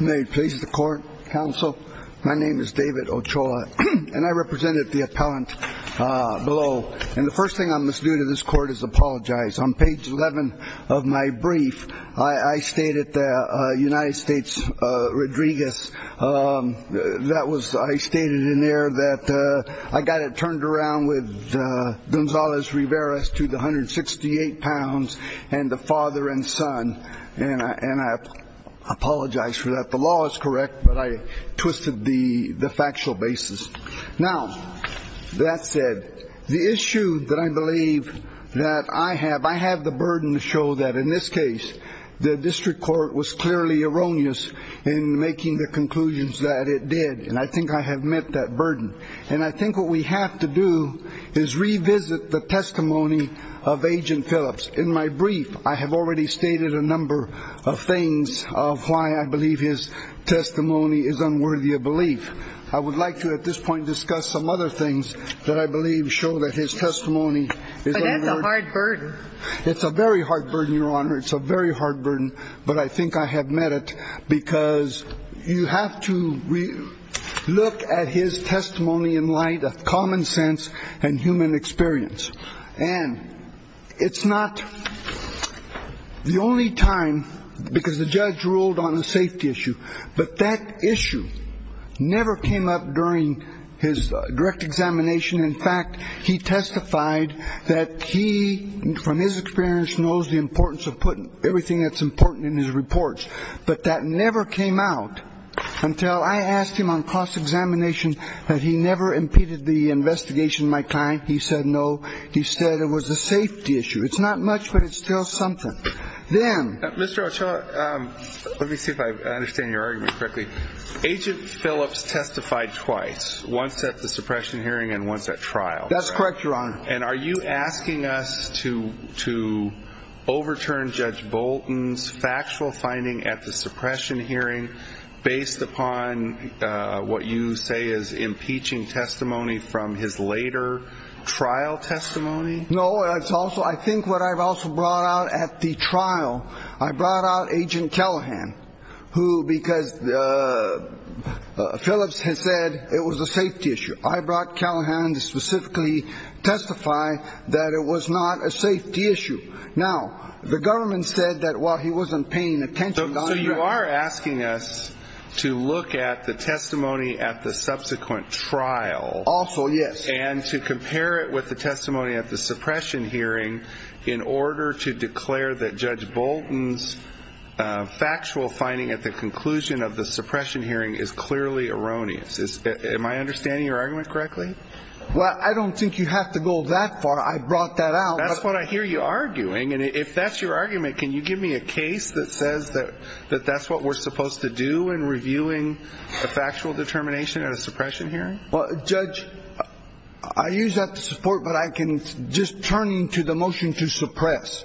May it please the court, counsel? My name is David Ochoa, and I represented the appellant below, and the first thing I must do to this court is apologize. On page 11 of my brief, I stated that United States Rodriguez, that was, I stated in there that I got it turned around with Gonzalez-Riveras to the 168 pounds and the father and son, and I apologize for that. The law is correct, but I twisted the factual basis. Now, that said, the issue that I believe that I have, I have the burden to show that in this case, the district court was clearly erroneous in making the conclusions that it did, and I think I have met that burden. And I think what we have to do is revisit the testimony of Agent Phillips. In my brief, I have already stated a number of things of why I believe his testimony is unworthy of belief. I would like to at this point discuss some other things that I believe show that his testimony is unworthy. But that's a hard burden. It's a very hard burden, Your Honor. It's a very hard burden, but I think I have met it because you have to look at his testimony in light of common sense and human experience. And it's not the only time, because the judge ruled on a safety issue, but that issue never came up during his direct examination. In fact, he testified that he, from his experience, knows the importance of putting everything that's important in his reports. But that never came out until I asked him on cross-examination that he never impeded the investigation of my client. He said no. He said it was a safety issue. It's not much, but it's still something. Then. Mr. Ochoa, let me see if I understand your argument correctly. Agent Phillips testified twice, once at the suppression hearing and once at trial. That's correct, Your Honor. And are you asking us to overturn Judge Bolton's factual finding at the suppression hearing based upon what you say is impeaching testimony from his later trial testimony? No. I think what I've also brought out at the trial, I brought out Agent Callahan, because Phillips has said it was a safety issue. I brought Callahan to specifically testify that it was not a safety issue. Now, the government said that while he wasn't paying attention. So you are asking us to look at the testimony at the subsequent trial. Also, yes. And to compare it with the testimony at the suppression hearing in order to declare that Judge Bolton's factual finding at the conclusion of the suppression hearing is clearly erroneous. Am I understanding your argument correctly? Well, I don't think you have to go that far. I brought that out. That's what I hear you arguing. And if that's your argument, can you give me a case that says that that's what we're supposed to do in reviewing a factual determination at a suppression hearing? Well, Judge, I use that to support, but I can just turn to the motion to suppress.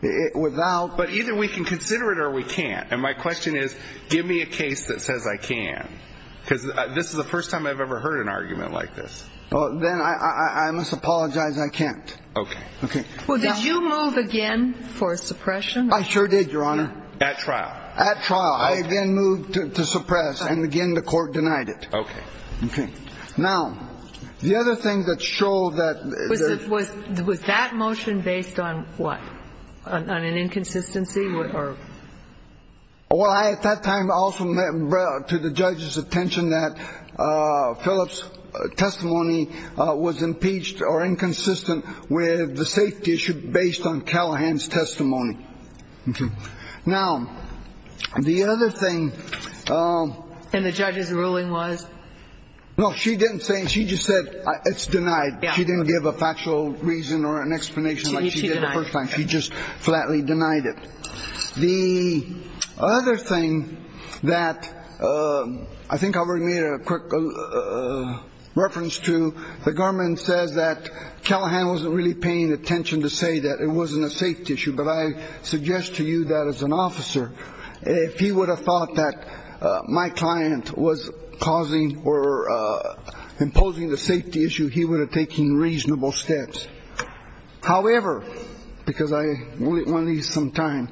But either we can consider it or we can't. And my question is, give me a case that says I can. Because this is the first time I've ever heard an argument like this. Well, then I must apologize. I can't. Okay. Okay. Well, did you move again for suppression? I sure did, Your Honor. At trial. At trial. I then moved to suppress. And again, the court denied it. Okay. Okay. Now, the other thing that showed that. Was that motion based on what? On an inconsistency? Well, at that time, I also brought to the judge's attention that Phillip's testimony was impeached or inconsistent with the safety issue based on Callahan's testimony. Now, the other thing. And the judge's ruling was. No, she didn't say. She just said it's denied. She didn't give a factual reason or an explanation like she did the first time. She just flatly denied it. The other thing that I think I've already made a quick reference to. The government says that Callahan wasn't really paying attention to say that it wasn't a safety issue. But I suggest to you that as an officer, if he would have thought that my client was causing or imposing the safety issue, he would have taken reasonable steps. However, because I want to leave some time.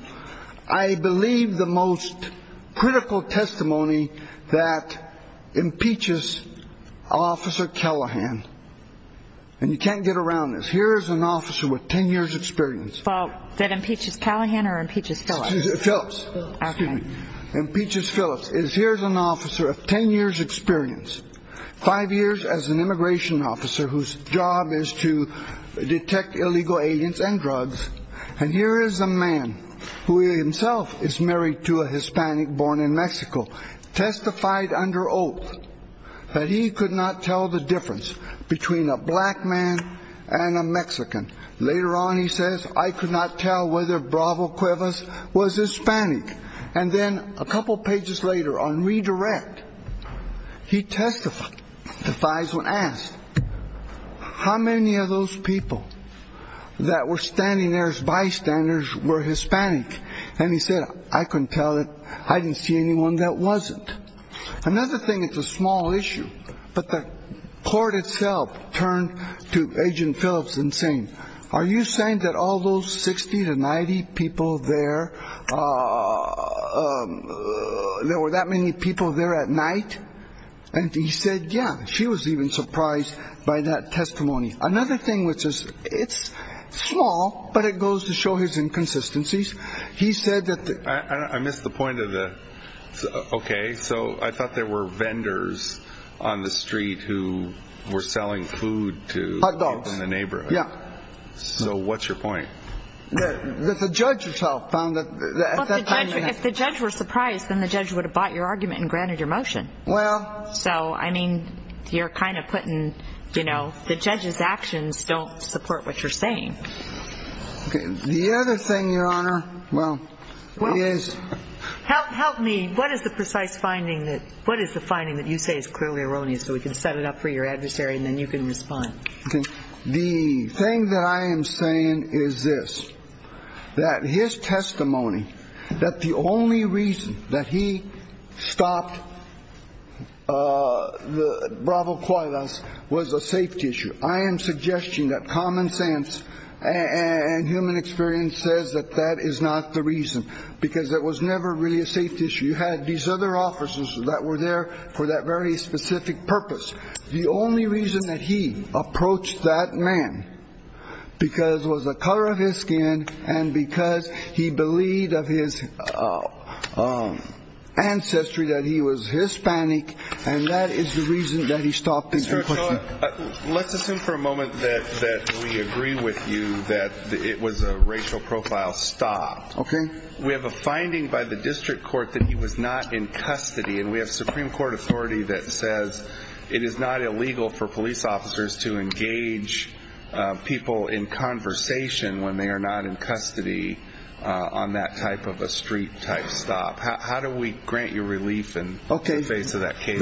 I believe the most critical testimony that impeaches Officer Callahan. And you can't get around this. Here is an officer with 10 years experience. That impeaches Callahan or impeaches Phillips? Phillips. Okay. Impeaches Phillips. Here's an officer of 10 years experience. Five years as an immigration officer whose job is to detect illegal aliens and drugs. And here is a man who himself is married to a Hispanic born in Mexico. Testified under oath that he could not tell the difference between a black man and a Mexican. Later on, he says, I could not tell whether Bravo Cuevas was Hispanic. And then a couple pages later on redirect, he testifies when asked how many of those people that were standing there as bystanders were Hispanic. And he said, I couldn't tell it. I didn't see anyone that wasn't. Another thing, it's a small issue. But the court itself turned to Agent Phillips and saying, are you saying that all those 60 to 90 people there, there were that many people there at night? And he said, yeah. She was even surprised by that testimony. Another thing which is, it's small, but it goes to show his inconsistencies. He said that I missed the point of the OK. So I thought there were vendors on the street who were selling food to the neighborhood. Yeah. So what's your point? The judge itself found that if the judge were surprised, then the judge would have bought your argument and granted your motion. Well, so, I mean, you're kind of putting, you know, the judge's actions don't support what you're saying. The other thing, Your Honor. Well, what is help? Help me. What is the precise finding that what is the finding that you say is clearly erroneous? So we can set it up for your adversary and then you can respond. The thing that I am saying is this, that his testimony, that the only reason that he stopped the bravo quietness was a safety issue. I am suggesting that common sense and human experience says that that is not the reason because it was never really a safety issue. You had these other officers that were there for that very specific purpose. The only reason that he approached that man because it was the color of his skin and because he believed of his ancestry that he was Hispanic. And that is the reason that he stopped. Let's assume for a moment that we agree with you that it was a racial profile stop. Okay. We have a finding by the district court that he was not in custody. And we have Supreme Court authority that says it is not illegal for police officers to engage people in conversation when they are not in custody on that type of a street type stop. How do we grant you relief in the face of that case?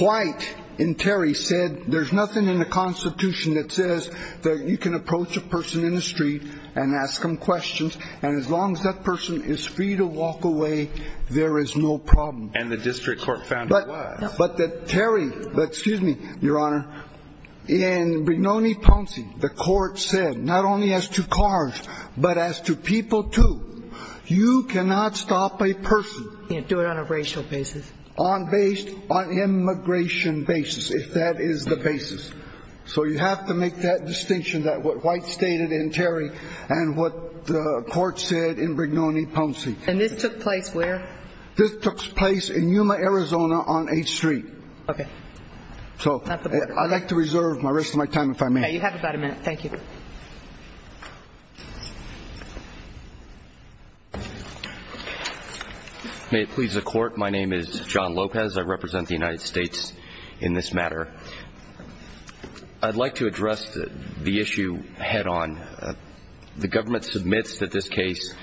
White and Terry said there is nothing in the Constitution that says that you can approach a person in the street and ask them questions. And as long as that person is free to walk away, there is no problem. And the district court found it was. But Terry, excuse me, Your Honor, in Brignone-Ponce, the court said not only as to cars, but as to people, too. You cannot stop a person. Do it on a racial basis. On immigration basis, if that is the basis. So you have to make that distinction that what White stated in Terry and what the court said in Brignone-Ponce. And this took place where? This took place in Yuma, Arizona on 8th Street. Okay. So I'd like to reserve the rest of my time if I may. You have about a minute. Thank you. May it please the Court, my name is John Lopez. I represent the United States in this matter. I'd like to address the issue head on. The government submits that this case,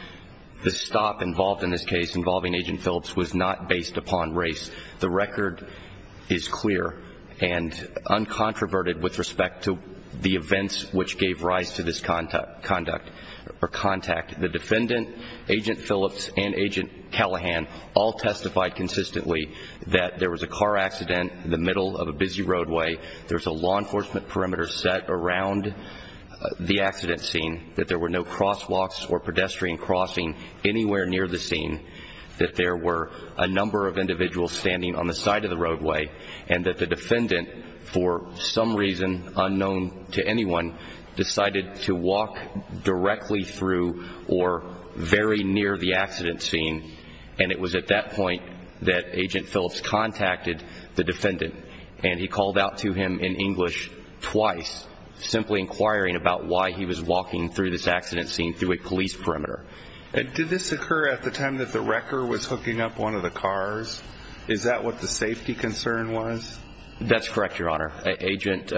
the stop involved in this case involving Agent Phillips was not based upon race. The record is clear and uncontroverted with respect to the events which gave rise to this conduct or contact. The defendant, Agent Phillips, and Agent Callahan all testified consistently that there was a car accident in the middle of a busy roadway. There was a law enforcement perimeter set around the accident scene. That there were no crosswalks or pedestrian crossing anywhere near the scene. That there were a number of individuals standing on the side of the roadway. And that the defendant, for some reason unknown to anyone, decided to walk directly through or very near the accident scene. And it was at that point that Agent Phillips contacted the defendant, and he called out to him in English twice, simply inquiring about why he was walking through this accident scene through a police perimeter. Did this occur at the time that the wrecker was hooking up one of the cars? Is that what the safety concern was? That's correct, Your Honor. Agent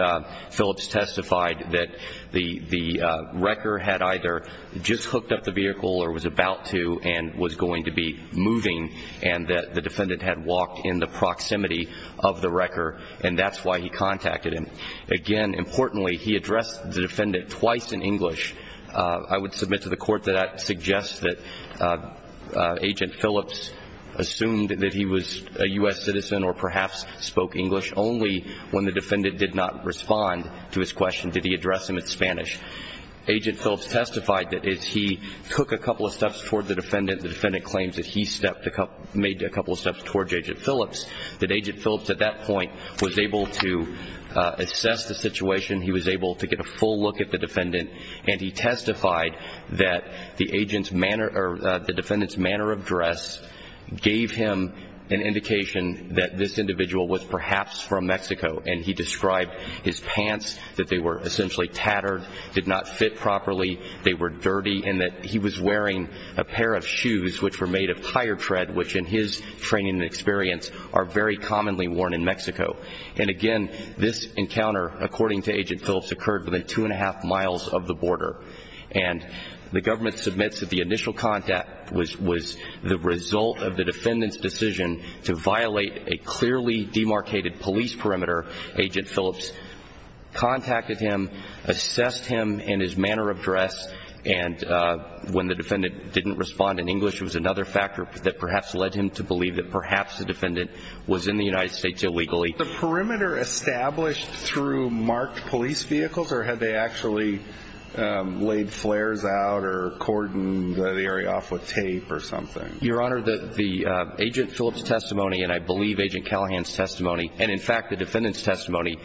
Phillips testified that the wrecker had either just hooked up the vehicle or was about to and was going to be moving, and that the defendant had walked in the proximity of the wrecker, and that's why he contacted him. Again, importantly, he addressed the defendant twice in English. I would submit to the court that I'd suggest that Agent Phillips assumed that he was a U.S. citizen or perhaps spoke English only when the defendant did not respond to his question. Did he address him in Spanish? Agent Phillips testified that as he took a couple of steps toward the defendant, the defendant claimed that he made a couple of steps toward Agent Phillips, that Agent Phillips at that point was able to assess the situation, he was able to get a full look at the defendant, and he testified that the defendant's manner of dress gave him an indication that this individual was perhaps from Mexico, and he described his pants, that they were essentially tattered, did not fit properly, they were dirty, and that he was wearing a pair of shoes which were made of tire tread, which in his training and experience are very commonly worn in Mexico. And again, this encounter, according to Agent Phillips, occurred within two and a half miles of the border, and the government submits that the initial contact was the result of the defendant's decision to violate a clearly demarcated police perimeter. Agent Phillips contacted him, assessed him in his manner of dress, and when the defendant didn't respond in English, it was another factor that perhaps led him to believe that perhaps the defendant was in the United States illegally. Was the perimeter established through marked police vehicles, or had they actually laid flares out or cordoned the area off with tape or something? Your Honor, the Agent Phillips testimony, and I believe Agent Callahan's testimony, and in fact the defendant's testimony,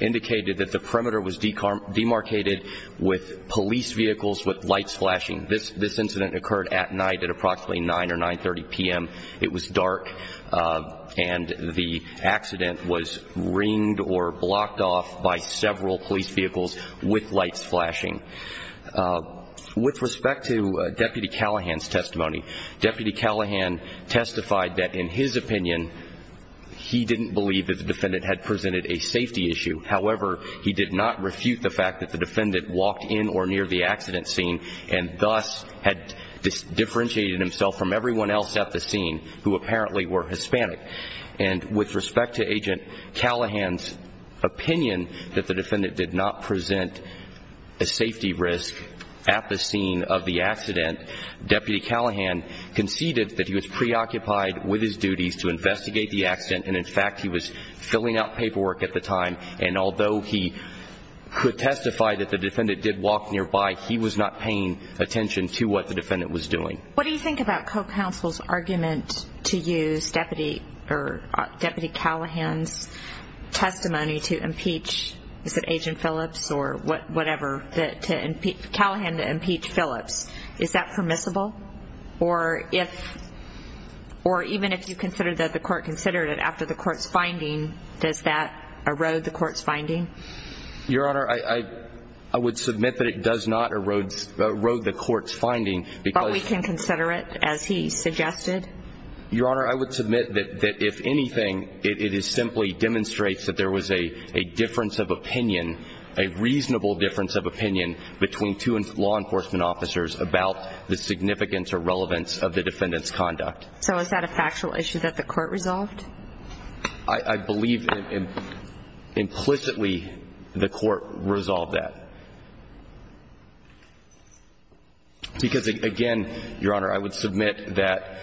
indicated that the perimeter was demarcated with police vehicles with lights flashing. This incident occurred at night at approximately 9 or 9.30 p.m. It was dark, and the accident was ringed or blocked off by several police vehicles with lights flashing. With respect to Deputy Callahan's testimony, Deputy Callahan testified that in his opinion, he didn't believe that the defendant had presented a safety issue. However, he did not refute the fact that the defendant walked in or near the accident scene and thus had differentiated himself from everyone else at the scene who apparently were Hispanic. And with respect to Agent Callahan's opinion that the defendant did not present a safety risk at the scene of the accident, Deputy Callahan conceded that he was preoccupied with his duties to investigate the accident, and in fact he was filling out paperwork at the time, and although he could testify that the defendant did walk nearby, he was not paying attention to what the defendant was doing. What do you think about co-counsel's argument to use Deputy Callahan's testimony to impeach, is it Agent Phillips or whatever, Callahan to impeach Phillips? Is that permissible? Or even if you consider that the court considered it after the court's finding, does that erode the court's finding? Your Honor, I would submit that it does not erode the court's finding because— But we can consider it as he suggested? Your Honor, I would submit that if anything, it simply demonstrates that there was a difference of opinion, a reasonable difference of opinion between two law enforcement officers about the significance or relevance of the defendant's conduct. So is that a factual issue that the court resolved? I believe implicitly the court resolved that. Because again, Your Honor, I would submit that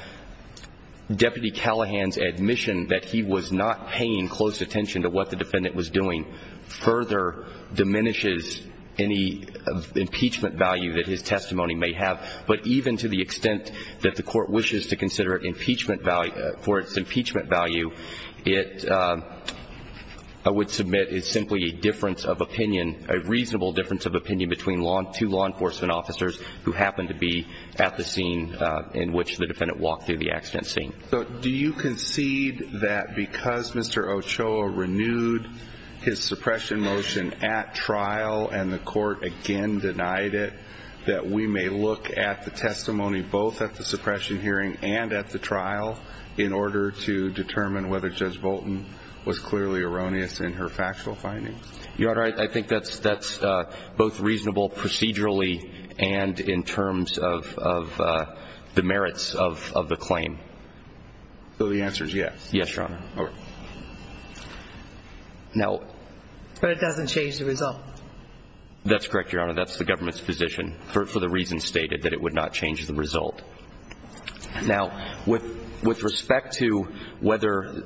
Deputy Callahan's admission that he was not paying close attention to what the defendant was doing further diminishes any impeachment value that his testimony may have. But even to the extent that the court wishes to consider it impeachment value, for its impeachment value, it, I would submit, is simply a difference of opinion, a reasonable difference of opinion between two law enforcement officers who happened to be at the scene in which the defendant walked through the accident scene. So do you concede that because Mr. Ochoa renewed his suppression motion at trial and the court again denied it, that we may look at the testimony both at the suppression hearing and at the trial in order to determine whether Judge Bolton was clearly erroneous in her factual findings? Your Honor, I think that's both reasonable procedurally and in terms of the merits of the claim. So the answer is yes? Yes, Your Honor. But it doesn't change the result? That's correct, Your Honor. That's the government's position for the reasons stated, that it would not change the result. Now, with respect to whether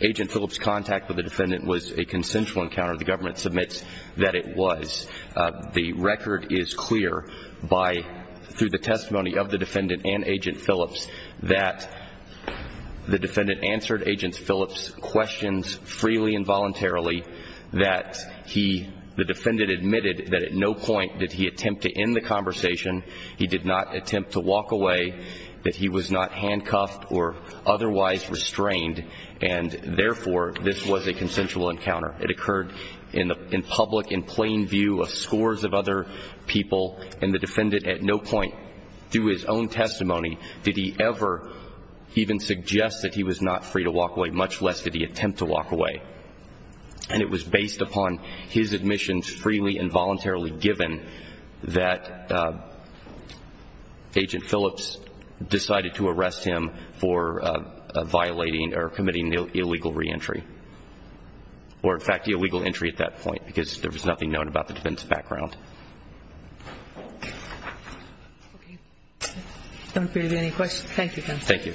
Agent Phillips' contact with the defendant was a consensual encounter, the government submits that it was. The record is clear through the testimony of the defendant and Agent Phillips that the defendant answered Agent Phillips' questions freely and voluntarily, that the defendant admitted that at no point did he attempt to end the conversation. He did not attempt to walk away, that he was not handcuffed or otherwise restrained, and therefore this was a consensual encounter. It occurred in public in plain view of scores of other people, and the defendant at no point through his own testimony did he ever even suggest that he was not free to walk away, much less did he attempt to walk away. And it was based upon his admissions freely and voluntarily, given that Agent Phillips decided to arrest him for violating or committing illegal reentry, or in fact illegal entry at that point, because there was nothing known about the defendant's background. Okay. I don't believe there are any questions. Thank you, counsel. Thank you.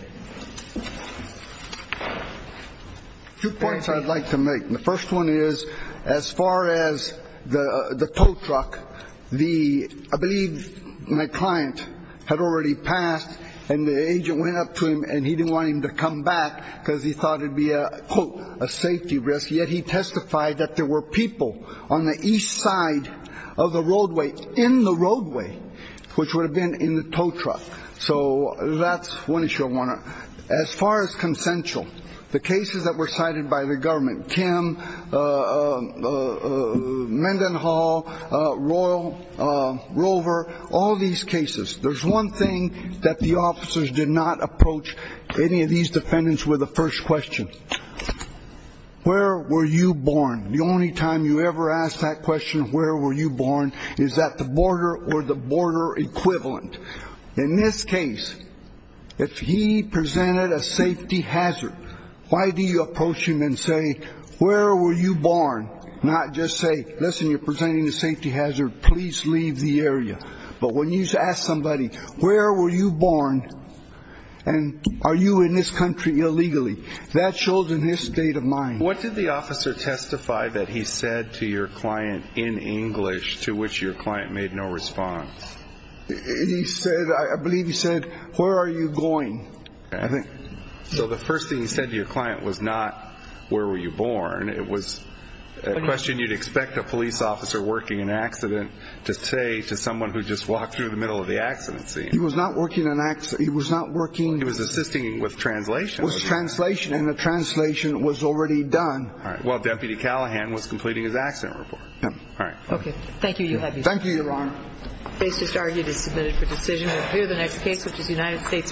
Two points I'd like to make. The first one is as far as the tow truck, the ‑‑ I believe my client had already passed, and the agent went up to him and he didn't want him to come back because he thought it would be a, quote, a safety risk, yet he testified that there were people on the east side of the roadway, in the roadway, which would have been in the tow truck. So that's one issue I want to ‑‑ as far as consensual, the cases that were cited by the government, Kim, Mendenhall, Royal, Rover, all these cases, there's one thing that the officers did not approach any of these defendants with the first question. Where were you born? The only time you ever ask that question, where were you born, is at the border or the border equivalent. In this case, if he presented a safety hazard, why do you approach him and say, where were you born, not just say, listen, you're presenting a safety hazard, please leave the area. But when you ask somebody, where were you born, and are you in this country illegally, that shows in his state of mind. What did the officer testify that he said to your client in English, to which your client made no response? He said, I believe he said, where are you going? So the first thing he said to your client was not where were you born. It was a question you'd expect a police officer working an accident to say to someone who just walked through the middle of the accident scene. He was not working an accident. He was not working. He was assisting with translation. With translation, and the translation was already done. While Deputy Callahan was completing his accident report. All right. Okay. Thank you, Your Honor. Thank you, Your Honor. The case just argued is submitted for decision. We'll hear the next case, which is United States v. Bynum.